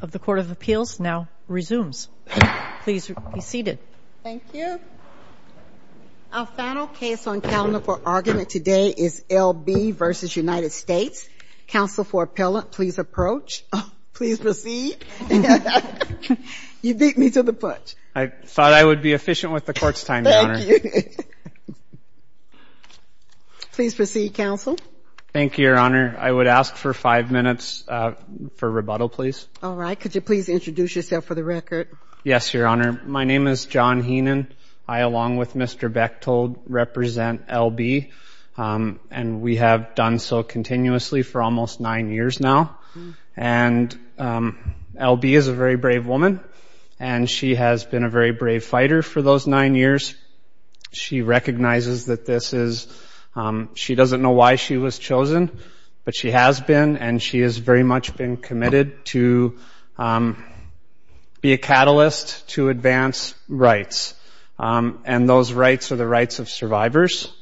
of the Court of Appeals now resumes. Please be seated. Thank you. Our final case on calendar for argument today is L. B. v. United States. Counsel for Appellant, please approach. Please proceed. You beat me to the punch. I thought I would be efficient with the court's time, Your Honor. Thank you. Please proceed, Counsel. Thank you, Your Honor. I would ask for five minutes for rebuttal, please. All right. Could you please introduce yourself for the record? Yes, Your Honor. My name is John Heenan. I, along with Mr. Bechtold, represent L. B. And we have done so continuously for almost nine years now. And L. B. is a very brave woman, and she has been a very brave fighter for those nine years. She recognizes that this is, she doesn't know why she was chosen, but she has been, and she has very much been committed to be a catalyst to advance rights. And those rights are the rights of survivors.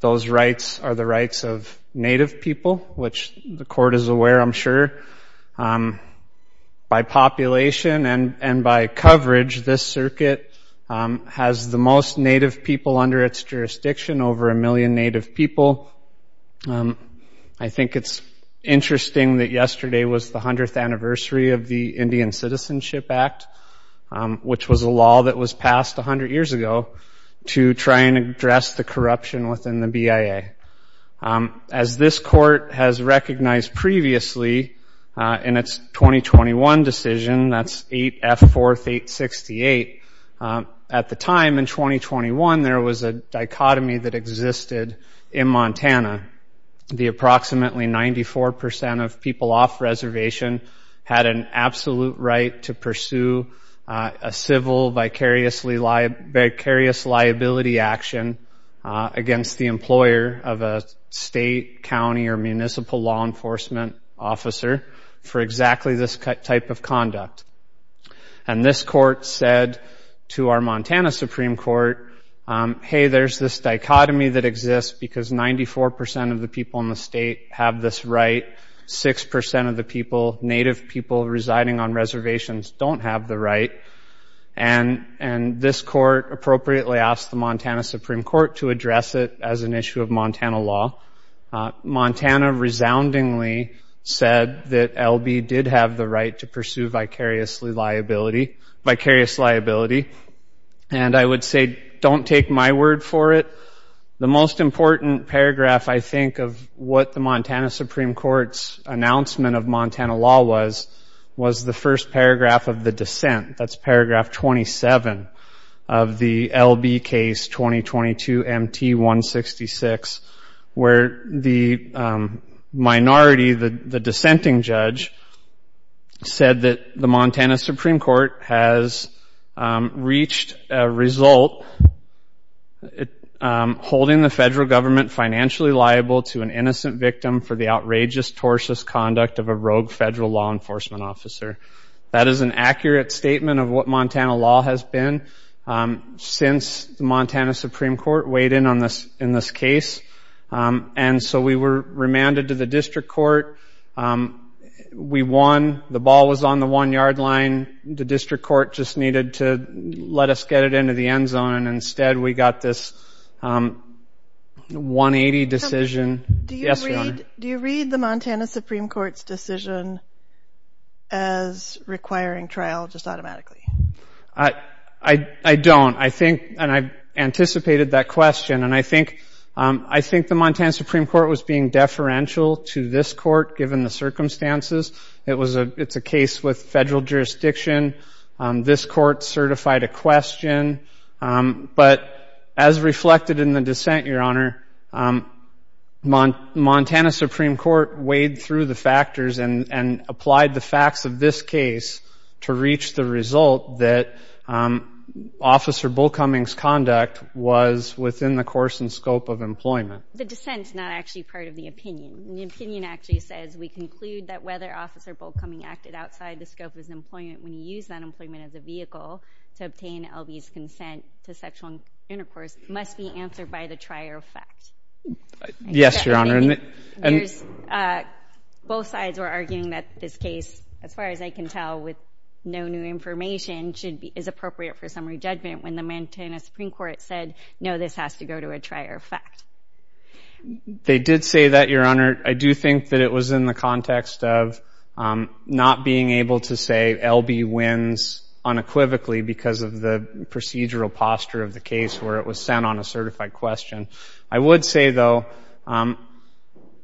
Those rights are the rights of Native people, By population and by coverage, this circuit has the most Native people under its jurisdiction, over a million Native people. I think it's interesting that yesterday was the 100th anniversary of the Indian Citizenship Act, which was a law that was passed 100 years ago to try and address the corruption within the BIA. As this court has recognized previously in its 2021 decision, that's 8F 4th 868, at the time in 2021, there was a dichotomy that existed in Montana. The approximately 94% of people off reservation had an absolute right to pursue a civil, vicarious liability action against the employer of a state, county, or municipal law enforcement officer for exactly this type of conduct. And this court said to our Montana Supreme Court, hey, there's this dichotomy that exists because 94% of the people in the state have this right, 6% of the people, Native people residing on reservations don't have the right. And this court appropriately asked the Montana Supreme Court to address it as an issue of Montana law. Montana resoundingly said that LB did have the right to pursue vicarious liability. And I would say, don't take my word for it. The most important paragraph, I think, of what the Montana Supreme Court's announcement of Montana law was, was the first paragraph of the dissent. That's paragraph 27 of the LB case 2022-MT-166, where the minority, the dissenting judge, said that the Montana Supreme Court has reached a result, holding the federal government financially liable to an innocent victim for the outrageous, tortious conduct of a rogue federal law enforcement officer. That is an accurate statement of what Montana law has been since the Montana Supreme Court weighed in on this case. And so we were remanded to the district court. We won. The ball was on the one-yard line. The district court just needed to let us get it into the end zone. And instead, we got this 180 decision. Yes, Your Honor. Do you read the Montana Supreme Court's decision as requiring trial just automatically? I don't. And I anticipated that question. And I think the Montana Supreme Court was being deferential to this court, given the circumstances. It's a case with federal jurisdiction. This court certified a question. But as reflected in the dissent, Your Honor, Montana Supreme Court weighed through the factors and applied the facts of this case to reach the result that Officer Bullcumming's conduct was within the course and scope of employment. The dissent is not actually part of the opinion. The opinion actually says we conclude that whether Officer Bullcumming acted outside the scope of his employment when he used that employment as a vehicle to obtain LB's consent to sexual intercourse must be answered by the trier of fact. Yes, Your Honor. Both sides were arguing that this case, as far as I can tell with no new information, is appropriate for summary judgment when the Montana Supreme Court said, no, this has to go to a trier of fact. They did say that, Your Honor. I do think that it was in the context of not being able to say LB wins unequivocally because of the procedural posture of the case where it was sent on a certified question. I would say, though,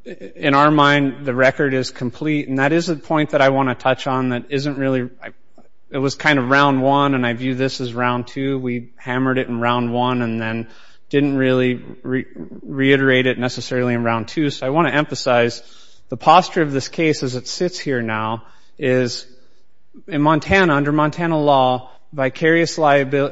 in our mind, the record is complete. And that is a point that I want to touch on that isn't really – it was kind of round one, and I view this as round two. We hammered it in round one and then didn't really reiterate it necessarily in round two. I want to emphasize the posture of this case as it sits here now is in Montana, under Montana law, vicarious liability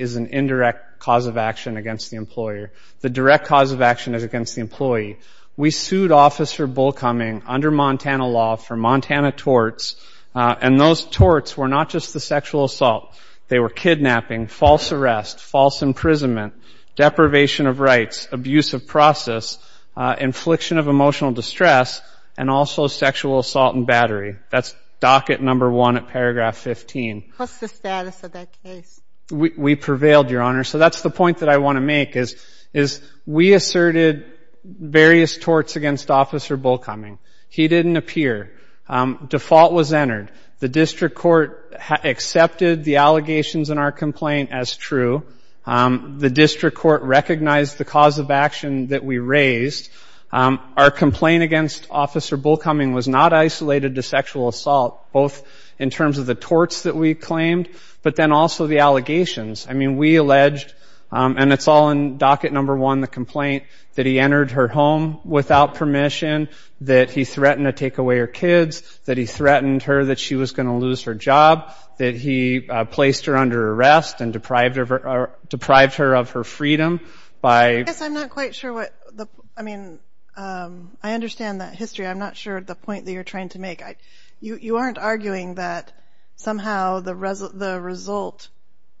is an indirect cause of action against the employer. The direct cause of action is against the employee. We sued Officer Bullcoming under Montana law for Montana torts, and those torts were not just the sexual assault. They were kidnapping, false arrest, false imprisonment, deprivation of rights, abuse of process, infliction of emotional distress, and also sexual assault and battery. That's docket number one at paragraph 15. What's the status of that case? We prevailed, Your Honor. So that's the point that I want to make is we asserted various torts against Officer Bullcoming. He didn't appear. Default was entered. The district court accepted the allegations in our complaint as true. The district court recognized the cause of action that we raised. Our complaint against Officer Bullcoming was not isolated to sexual assault, both in terms of the torts that we claimed, but then also the allegations. I mean, we alleged, and it's all in docket number one, the complaint that he entered her home without permission, that he threatened to take away her kids, that he threatened her that she was going to lose her job, that he placed her under arrest and deprived her of her freedom. I guess I'm not quite sure what the – I mean, I understand that history. I'm not sure the point that you're trying to make. You aren't arguing that somehow the result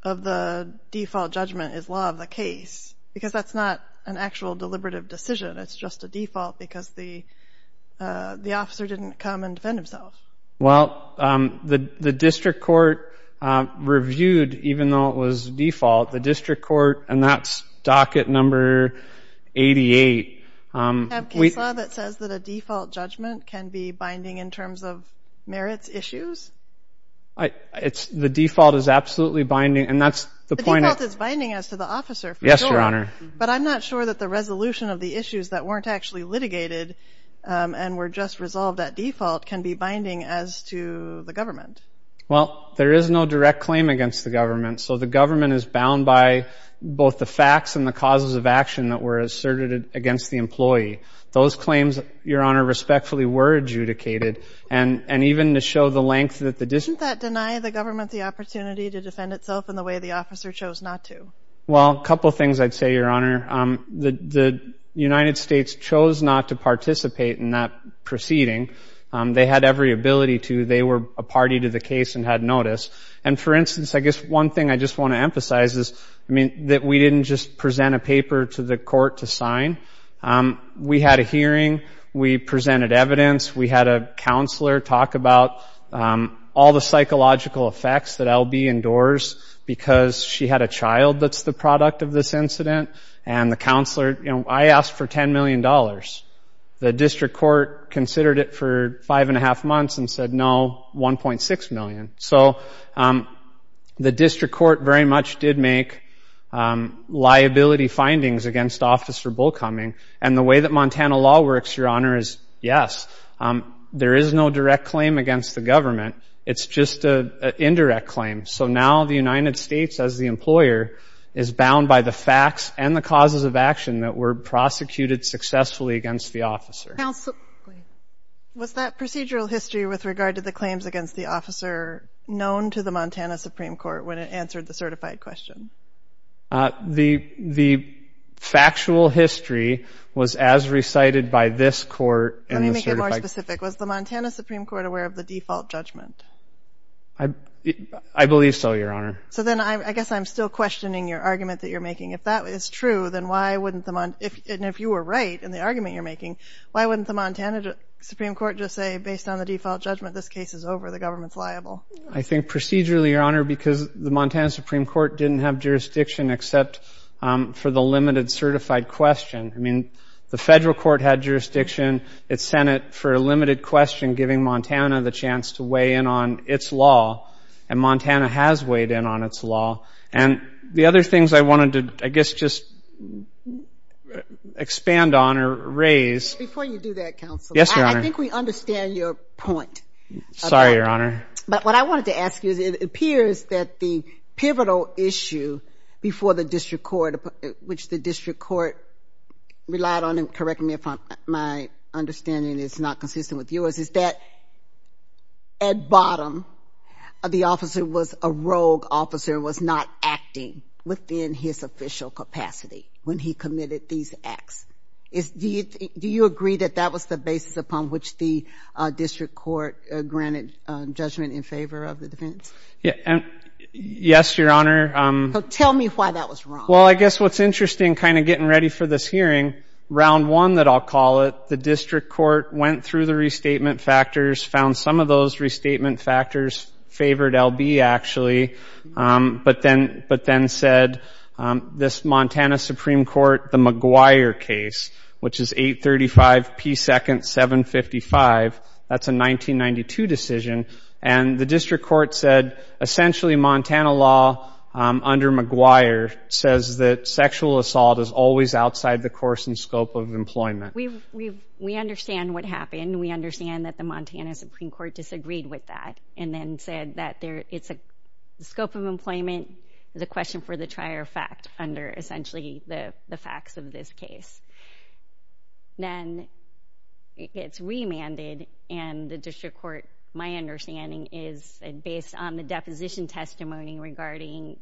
of the default judgment is law of the case because that's not an actual deliberative decision. It's just a default because the officer didn't come and defend himself. Well, the district court reviewed, even though it was default, the district court, and that's docket number 88. We have case law that says that a default judgment can be binding in terms of merits issues? It's – the default is absolutely binding, and that's the point of – The default is binding as to the officer for sure. Yes, Your Honor. But I'm not sure that the resolution of the issues that weren't actually litigated and were just resolved at default can be binding as to the government. Well, there is no direct claim against the government, so the government is bound by both the facts and the causes of action that were asserted against the employee. Those claims, Your Honor, respectfully were adjudicated. And even to show the length that the – Doesn't that deny the government the opportunity to defend itself in the way the officer chose not to? Well, a couple things I'd say, Your Honor. The United States chose not to participate in that proceeding. They had every ability to. They were a party to the case and had notice. And for instance, I guess one thing I just want to emphasize is, I mean, that we didn't just present a paper to the court to sign. We had a hearing. We presented evidence. We had a counselor talk about all the psychological effects that L.B. endures because she had a child that's the product of this incident. And the counselor – I asked for $10 million. The district court considered it for five-and-a-half months and said, no, $1.6 million. So the district court very much did make liability findings against Officer Bullcoming. And the way that Montana law works, Your Honor, is, yes, there is no direct claim against the government. It's just an indirect claim. So now the United States, as the employer, is bound by the facts and the causes of action that were prosecuted successfully against the officer. Was that procedural history with regard to the claims against the officer known to the Montana Supreme Court when it answered the certified question? The factual history was as recited by this court in the certified – Let me make it more specific. Was the Montana Supreme Court aware of the default judgment? I believe so, Your Honor. So then I guess I'm still questioning your argument that you're making. If that is true, then why wouldn't the – and if you were right in the argument you're making, why wouldn't the Montana Supreme Court just say, based on the default judgment, this case is over, the government's liable? I think procedurally, Your Honor, because the Montana Supreme Court didn't have jurisdiction except for the limited certified question. I mean, the federal court had jurisdiction. It sent it for a limited question, giving Montana the chance to weigh in on its law, and Montana has weighed in on its law. And the other things I wanted to, I guess, just expand on or raise – Before you do that, counsel. Yes, Your Honor. I think we understand your point. Sorry, Your Honor. But what I wanted to ask you is it appears that the pivotal issue before the district court, which the district court relied on – and correct me if my understanding is not consistent with yours – is that at bottom, the officer was a rogue officer, was not acting within his official capacity when he committed these acts. Do you agree that that was the basis upon which the district court granted judgment in favor of the defense? Yes, Your Honor. Tell me why that was wrong. Well, I guess what's interesting, kind of getting ready for this hearing, round one that I'll call it, the district court went through the restatement factors, found some of those restatement factors favored L.B. actually, but then said this Montana Supreme Court, the McGuire case, which is 835 P. 2nd. 755. That's a 1992 decision. And the district court said essentially Montana law under McGuire says that sexual assault is always outside the course and scope of employment. We understand what happened. We understand that the Montana Supreme Court disagreed with that and then said that the scope of employment is a question for the trier of fact under essentially the facts of this case. Then it gets remanded and the district court, my understanding, is based on the deposition testimony regarding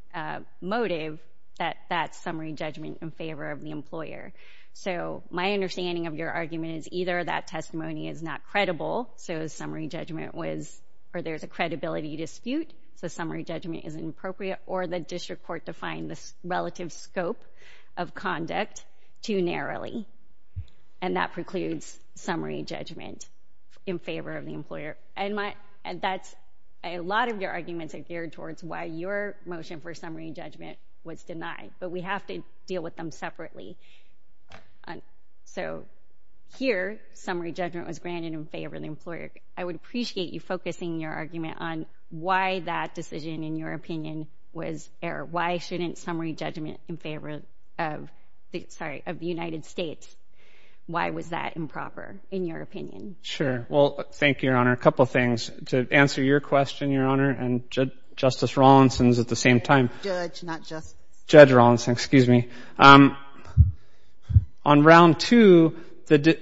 motive that that's summary judgment in favor of the employer. So my understanding of your argument is either that testimony is not credible, so summary judgment was, or there's a credibility dispute, so summary judgment is inappropriate, or the district court defined the relative scope of conduct too narrowly, and that precludes summary judgment in favor of the employer. A lot of your arguments are geared towards why your motion for summary judgment was denied, but we have to deal with them separately. So here, summary judgment was granted in favor of the employer. I would appreciate you focusing your argument on why that decision, in your opinion, was error. Why shouldn't summary judgment in favor of the United States? Why was that improper, in your opinion? Well, thank you, Your Honor. A couple of things. To answer your question, Your Honor, and Justice Rawlinson's at the same time. Judge, not just. Judge Rawlinson, excuse me. On round two,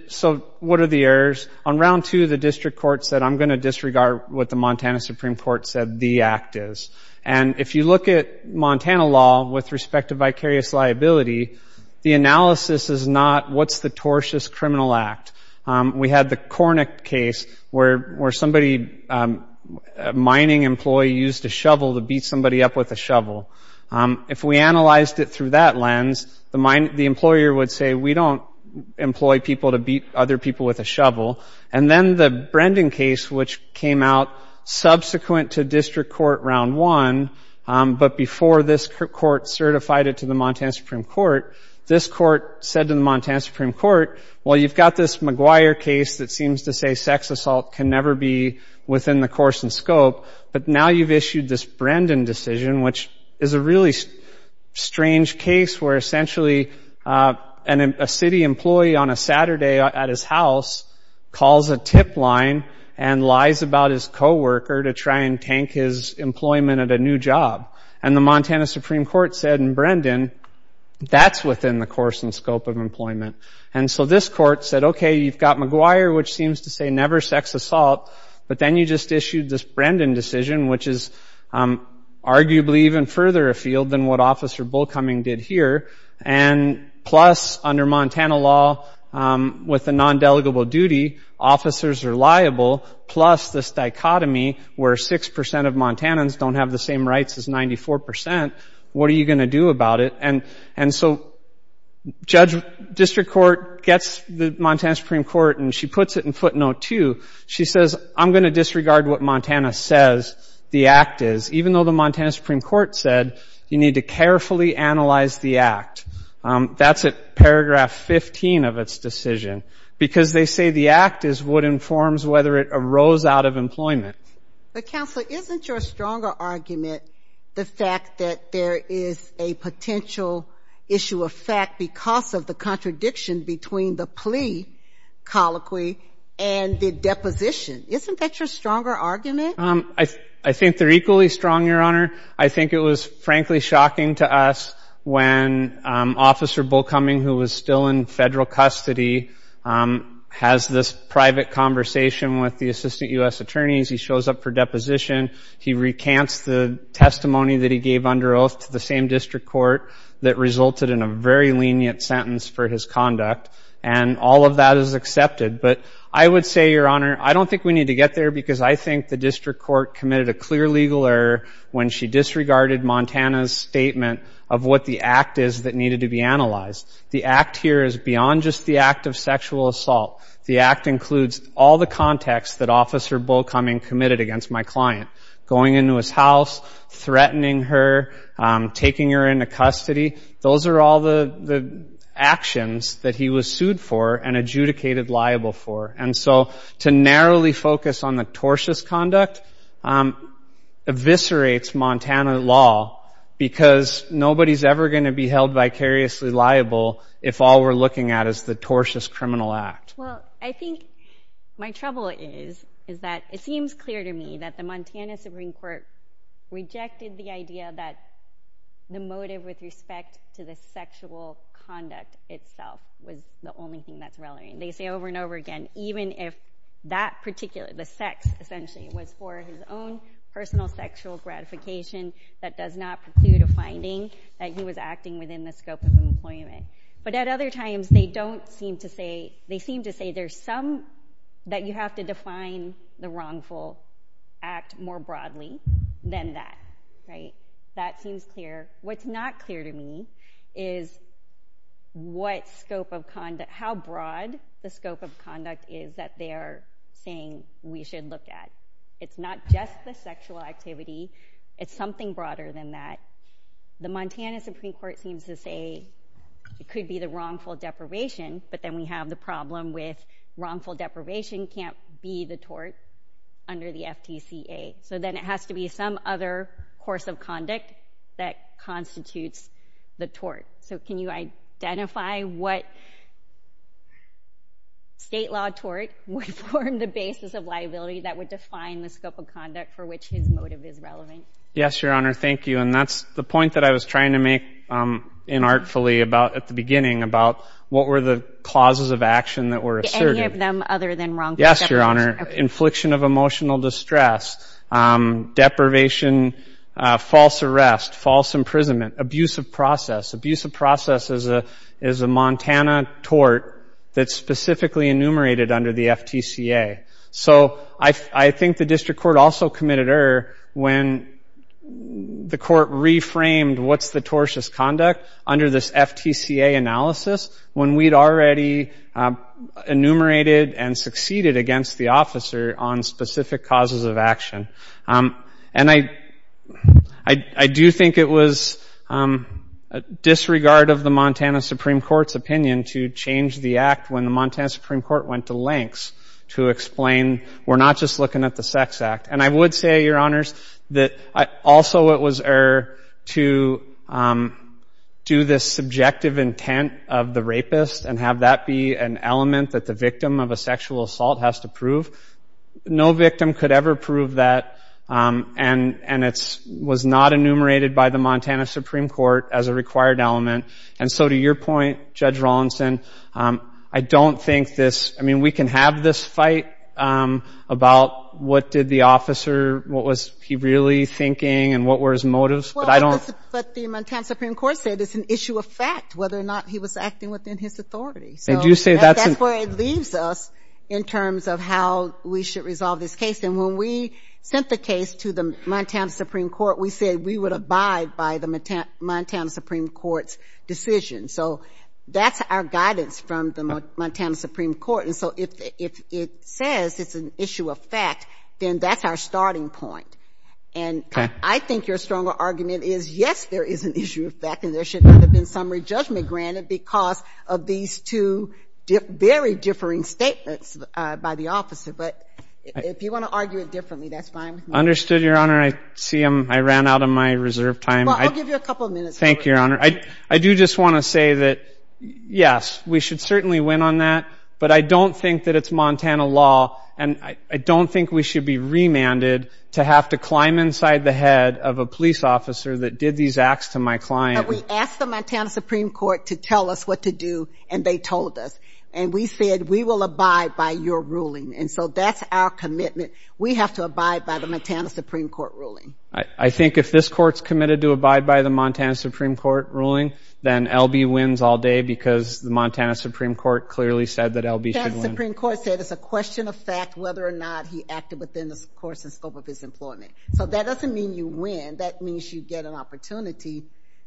so what are the errors? On round two, the district court said, I'm going to disregard what the Montana Supreme Court said the act is. And if you look at Montana law with respect to vicarious liability, the analysis is not what's the tortious criminal act. We had the Cornett case where somebody, a mining employee, used a shovel to beat somebody up with a shovel. If we analyzed it through that lens, the employer would say, we don't employ people to beat other people with a shovel. And then the Brendan case, which came out subsequent to district court round one, but before this court certified it to the Montana Supreme Court, this court said to the Montana Supreme Court, well, you've got this McGuire case that seems to say sex assault can never be within the course and scope, but now you've issued this Brendan decision, which is a really strange case where essentially a city employee on a Saturday at his house calls a tip line and lies about his coworker to try and tank his employment at a new job. And the Montana Supreme Court said in Brendan, that's within the course and scope of employment. And so this court said, okay, you've got McGuire, which seems to say never sex assault, but then you just issued this Brendan decision, which is arguably even further afield than what Officer Bullcoming did here. And plus, under Montana law, with a non-delegable duty, officers are liable, plus this dichotomy where 6% of Montanans don't have the same rights as 94%. What are you going to do about it? And so district court gets the Montana Supreme Court and she puts it in footnote two. She says, I'm going to disregard what Montana says the act is, even though the Montana Supreme Court said you need to carefully analyze the act. That's at paragraph 15 of its decision, because they say the act is what informs whether it arose out of employment. But, Counselor, isn't your stronger argument the fact that there is a potential issue of fact because of the contradiction between the plea colloquy and the deposition? Isn't that your stronger argument? I think they're equally strong, Your Honor. I think it was, frankly, shocking to us when Officer Bullcoming, who was still in federal custody, has this private conversation with the assistant U.S. attorneys. He shows up for deposition. He recants the testimony that he gave under oath to the same district court that resulted in a very lenient sentence for his conduct, and all of that is accepted. But I would say, Your Honor, I don't think we need to get there because I think the district court committed a clear legal error when she disregarded Montana's statement of what the act is that needed to be analyzed. The act here is beyond just the act of sexual assault. The act includes all the contacts that Officer Bullcoming committed against my client, going into his house, threatening her, taking her into custody. Those are all the actions that he was sued for and adjudicated liable for. And so to narrowly focus on the tortious conduct eviscerates Montana law because nobody's ever going to be held vicariously liable if all we're looking at is the tortious criminal act. Well, I think my trouble is that it seems clear to me that the Montana Supreme Court rejected the idea that the motive with respect to the sexual conduct itself was the only thing that's relevant. They say over and over again, even if that particular, the sex, essentially, was for his own personal sexual gratification, that does not preclude a finding that he was acting within the scope of employment. But at other times they don't seem to say, they seem to say there's some that you have to define the wrongful act more broadly than that. That seems clear. What's not clear to me is what scope of conduct, how broad the scope of conduct is that they are saying we should look at. It's not just the sexual activity. It's something broader than that. The Montana Supreme Court seems to say it could be the wrongful deprivation, but then we have the problem with wrongful deprivation can't be the tort under the FTCA. So then it has to be some other course of conduct that constitutes the tort. So can you identify what state law tort would form the basis of liability that would define the scope of conduct for which his motive is relevant? Yes, Your Honor. Thank you. And that's the point that I was trying to make inartfully at the beginning about what were the clauses of action that were assertive. Any of them other than wrongful deprivation. Yes, Your Honor. Infliction of emotional distress, deprivation, false arrest, false imprisonment, abuse of process. Abuse of process is a Montana tort that's specifically enumerated under the FTCA. So I think the district court also committed error when the court reframed what's the tortious conduct under this FTCA analysis when we'd already enumerated and succeeded against the officer on specific causes of action. And I do think it was disregard of the Montana Supreme Court's opinion to change the act when the Montana Supreme Court went to lengths to explain we're not just looking at the sex act. And I would say, Your Honors, that also it was error to do this subjective intent of the rapist and have that be an element that the victim of a sexual assault has to prove. No victim could ever prove that. And it was not enumerated by the Montana Supreme Court as a required element. And so to your point, Judge Rawlinson, I don't think this – I mean, we can have this fight about what did the officer – what was he really thinking and what were his motives, but I don't – But the Montana Supreme Court said it's an issue of fact whether or not he was acting within his authority. And that's where it leaves us in terms of how we should resolve this case. And when we sent the case to the Montana Supreme Court, we said we would abide by the Montana Supreme Court's decision. So that's our guidance from the Montana Supreme Court. And so if it says it's an issue of fact, then that's our starting point. And I think your stronger argument is, yes, there is an issue of fact and there should not have been summary judgment granted because of these two very differing statements by the officer. But if you want to argue it differently, that's fine with me. Understood, Your Honor. I see I ran out of my reserve time. Well, I'll give you a couple of minutes. Thank you, Your Honor. I do just want to say that, yes, we should certainly win on that, but I don't think that it's Montana law and I don't think we should be remanded to have to climb inside the head of a police officer that did these acts to my client. But we asked the Montana Supreme Court to tell us what to do and they told us. And we said we will abide by your ruling. And so that's our commitment. We have to abide by the Montana Supreme Court ruling. I think if this Court's committed to abide by the Montana Supreme Court ruling, then L.B. wins all day because the Montana Supreme Court clearly said that L.B. should win. The Montana Supreme Court said it's a question of fact whether or not he acted within the course and scope of his employment. So that doesn't mean you win. That means you get an opportunity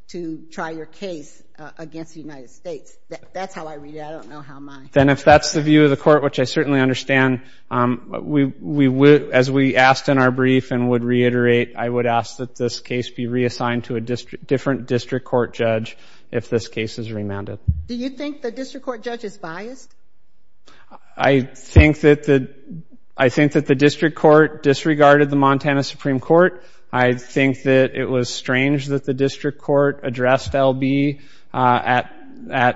to try your case against the United States. That's how I read it. I don't know how mine. Then if that's the view of the Court, which I certainly understand, as we asked in our brief and would reiterate, I would ask that this case be reassigned to a different district court judge if this case is remanded. Do you think the district court judge is biased? I think that the district court disregarded the Montana Supreme Court. I think that it was strange that the district court addressed L.B. at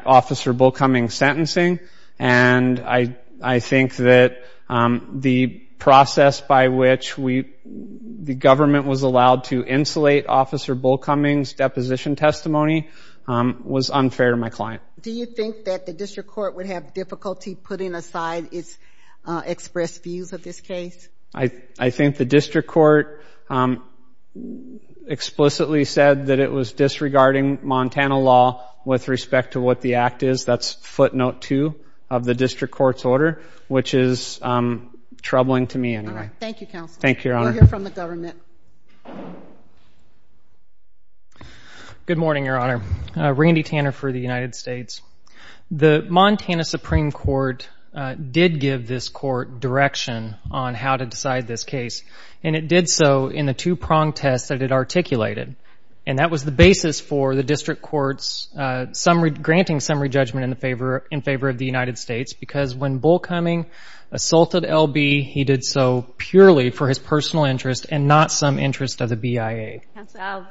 Officer Bullcumming's sentencing, and I think that the process by which the government was allowed to insulate Officer Bullcumming's deposition testimony was unfair to my client. Do you think that the district court would have difficulty putting aside its expressed views of this case? I think the district court explicitly said that it was disregarding Montana law with respect to what the act is. That's footnote two of the district court's order, which is troubling to me anyway. Thank you, Counselor. Thank you, Your Honor. We'll hear from the government. Good morning, Your Honor. Randy Tanner for the United States. The Montana Supreme Court did give this court direction on how to decide this case, and it did so in the two-prong test that it articulated, and that was the basis for the district court's granting summary judgment in favor of the United States, because when Bullcumming assaulted L.B., he did so purely for his personal interest and not some interest of the BIA. Counsel,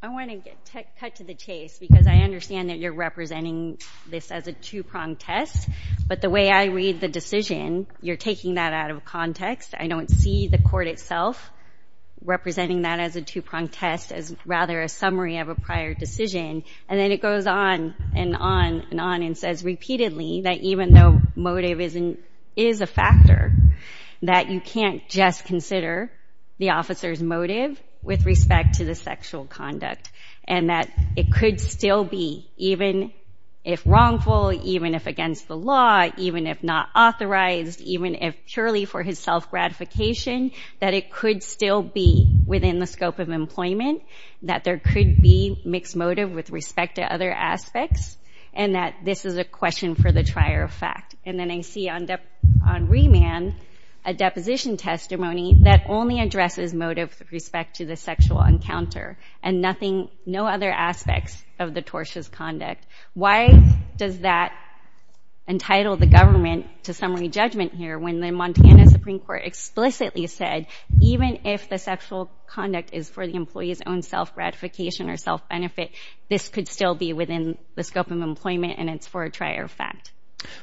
I want to cut to the chase, because I understand that you're representing this as a two-prong test, but the way I read the decision, you're taking that out of context. I don't see the court itself representing that as a two-prong test, as rather a summary of a prior decision. And then it goes on and on and on and says repeatedly that even though motive is a factor, that you can't just consider the officer's motive with respect to the sexual conduct and that it could still be, even if wrongful, even if against the law, even if not authorized, even if purely for his self-gratification, that it could still be within the scope of employment, that there could be mixed motive with respect to other aspects, and that this is a question for the trier of fact. And then I see on remand a deposition testimony that only addresses motive with respect to the sexual encounter and no other aspects of the tortious conduct. Why does that entitle the government to summary judgment here when the Montana Supreme Court explicitly said, even if the sexual conduct is for the employee's own self-gratification or self-benefit, this could still be within the scope of employment and it's for a trier of fact?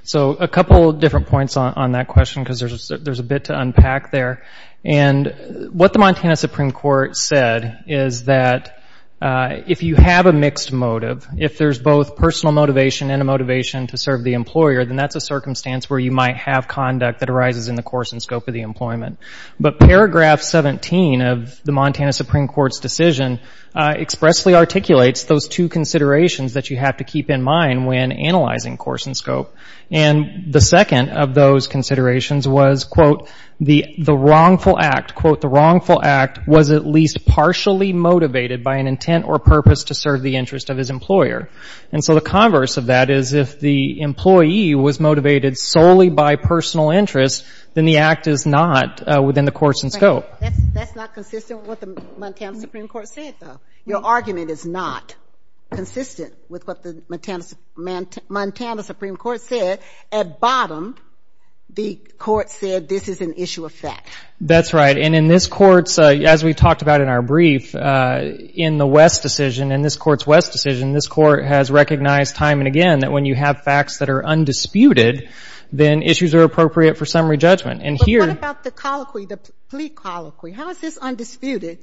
So a couple different points on that question, because there's a bit to unpack there. And what the Montana Supreme Court said is that if you have a mixed motive, if there's both personal motivation and a motivation to serve the employer, then that's a circumstance where you might have conduct that arises in the course and scope of the employment. But paragraph 17 of the Montana Supreme Court's decision expressly articulates those two considerations that you have to keep in mind when analyzing course and scope. And the second of those considerations was, quote, the wrongful act, quote, the wrongful act was at least partially motivated by an intent or purpose to serve the interest of his employer. And so the converse of that is if the employee was motivated solely by personal interest, then the act is not within the course and scope. That's not consistent with what the Montana Supreme Court said, though. Your argument is not consistent with what the Montana Supreme Court said. At bottom, the court said this is an issue of fact. That's right. And in this Court's, as we talked about in our brief, in the West decision, in this Court's West decision, this Court has recognized time and again that when you have facts that are undisputed, then issues are appropriate for summary judgment. But what about the colloquy, the plea colloquy? How is this undisputed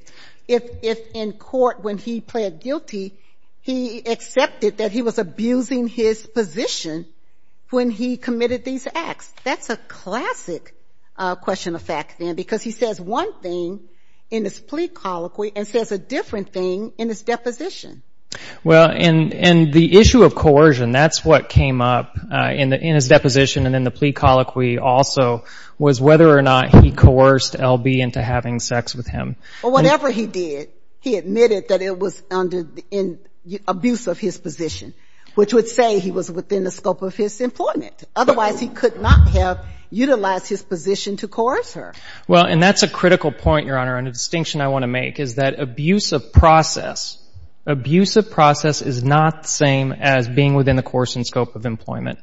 if in court when he pled guilty, he accepted that he was abusing his position when he committed these acts? That's a classic question of fact, then, because he says one thing in his plea colloquy and says a different thing in his deposition. Well, in the issue of coercion, that's what came up in his deposition and in the plea colloquy also was whether or not he coerced L.B. into having sex with him. Well, whatever he did, he admitted that it was under the abuse of his position, which would say he was within the scope of his employment. Otherwise, he could not have utilized his position to coerce her. Well, and that's a critical point, Your Honor, and a distinction I want to make is that abuse of process, abuse of process is not the same as being within the coercing scope of employment.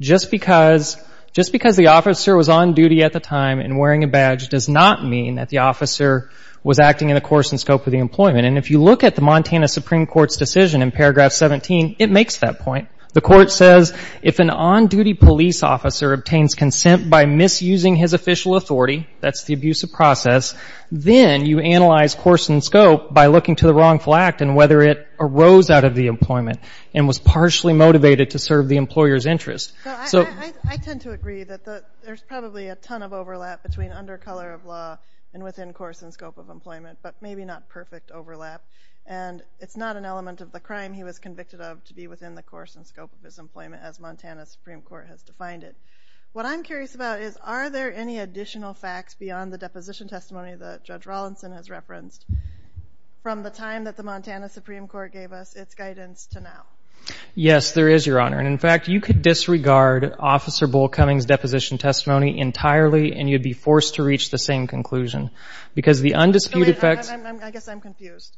Just because the officer was on duty at the time and wearing a badge does not mean that the officer was acting in the coercing scope of the employment. And if you look at the Montana Supreme Court's decision in paragraph 17, it makes that point. The court says if an on-duty police officer obtains consent by misusing his official authority, that's the abuse of process, then you analyze coercing scope by looking to the wrongful act and whether it arose out of the employment and was partially motivated to serve the employer's interest. I tend to agree that there's probably a ton of overlap between undercolor of law and within coercing scope of employment, but maybe not perfect overlap. And it's not an element of the crime he was convicted of to be within the coercing scope of his employment as Montana Supreme Court has defined it. What I'm curious about is are there any additional facts beyond the deposition testimony that Judge Rawlinson has referenced from the time that the Montana Supreme Court gave us its guidance to now? Yes, there is, Your Honor. And in fact, you could disregard Officer Bull Cummings' deposition testimony entirely and you'd be forced to reach the same conclusion. Because the undisputed facts... I guess I'm confused.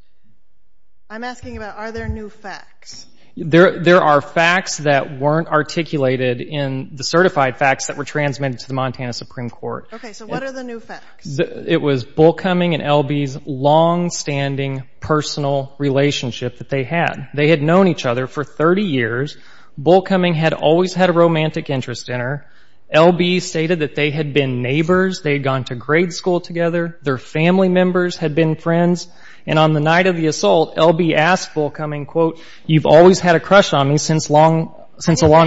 I'm asking about are there new facts? There are facts that weren't articulated in the certified facts that were transmitted to the Montana Supreme Court. Okay, so what are the new facts? It was Bull Cummings and L.B.'s longstanding personal relationship that they had. They had known each other for 30 years. Bull Cummings had always had a romantic interest in her. L.B. stated that they had been neighbors. They had gone to grade school together. Their family members had been friends. And on the night of the assault, L.B. asked Bull Cummings, quote, you've always had a crush on me since a long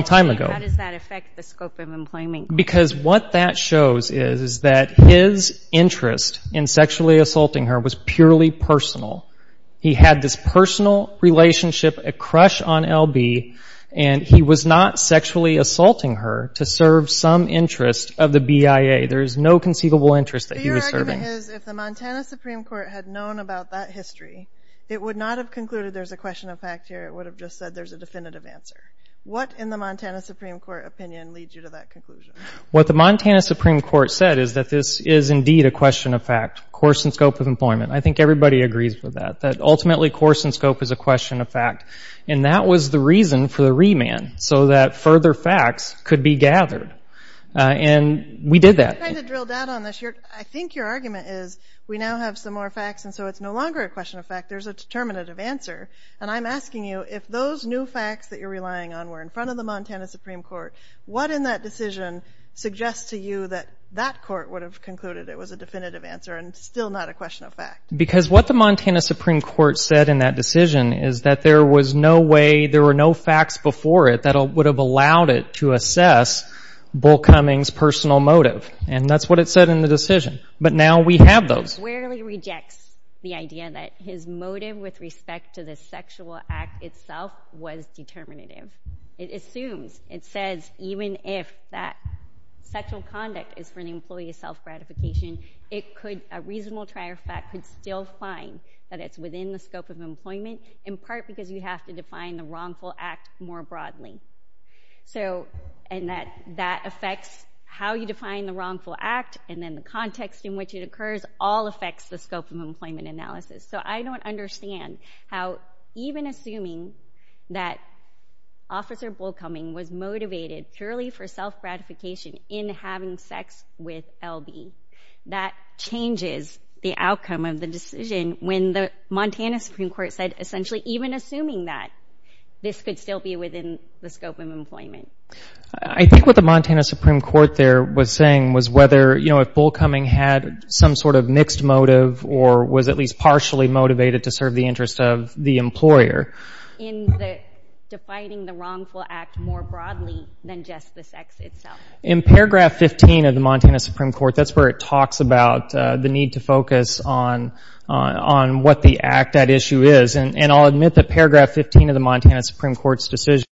time ago. How does that affect the scope of employment? Because what that shows is that his interest in sexually assaulting her was purely personal. He had this personal relationship, a crush on L.B., and he was not sexually assaulting her to serve some interest of the BIA. There is no conceivable interest that he was serving. So your argument is if the Montana Supreme Court had known about that history, it would not have concluded there's a question of fact here. It would have just said there's a definitive answer. What, in the Montana Supreme Court opinion, leads you to that conclusion? What the Montana Supreme Court said is that this is indeed a question of fact, course and scope of employment. I think everybody agrees with that, that ultimately course and scope is a question of fact. And that was the reason for the remand, so that further facts could be gathered. And we did that. I'm trying to drill down on this. I think your argument is we now have some more facts, and so it's no longer a question of fact. There's a determinative answer. And I'm asking you, if those new facts that you're relying on were in front of the Montana Supreme Court, what in that decision suggests to you that that court would have concluded it was a definitive answer and still not a question of fact? Because what the Montana Supreme Court said in that decision is that there was no way, there were no facts before it that would have allowed it to assess Bull Cummings' personal motive. And that's what it said in the decision. But now we have those. It squarely rejects the idea that his motive with respect to the sexual act itself was determinative. It assumes. It says even if that sexual conduct is for the employee's self-gratification, a reasonable trial fact could still find that it's within the scope of employment, in part because you have to define the wrongful act more broadly. And that affects how you define the wrongful act and then the context in which it occurs, all affects the scope of employment analysis. So I don't understand how even assuming that Officer Bull Cumming was motivated purely for self-gratification in having sex with L.B., that changes the outcome of the decision when the Montana Supreme Court said essentially even assuming that, this could still be within the scope of employment. I think what the Montana Supreme Court there was saying was whether, you know, if Bull Cumming had some sort of mixed motive or was at least partially motivated to serve the interest of the employer. In defining the wrongful act more broadly than just the sex itself. In paragraph 15 of the Montana Supreme Court, that's where it talks about the need to focus on what the act at issue is. And I'll admit that paragraph 15 of the Montana Supreme Court's decision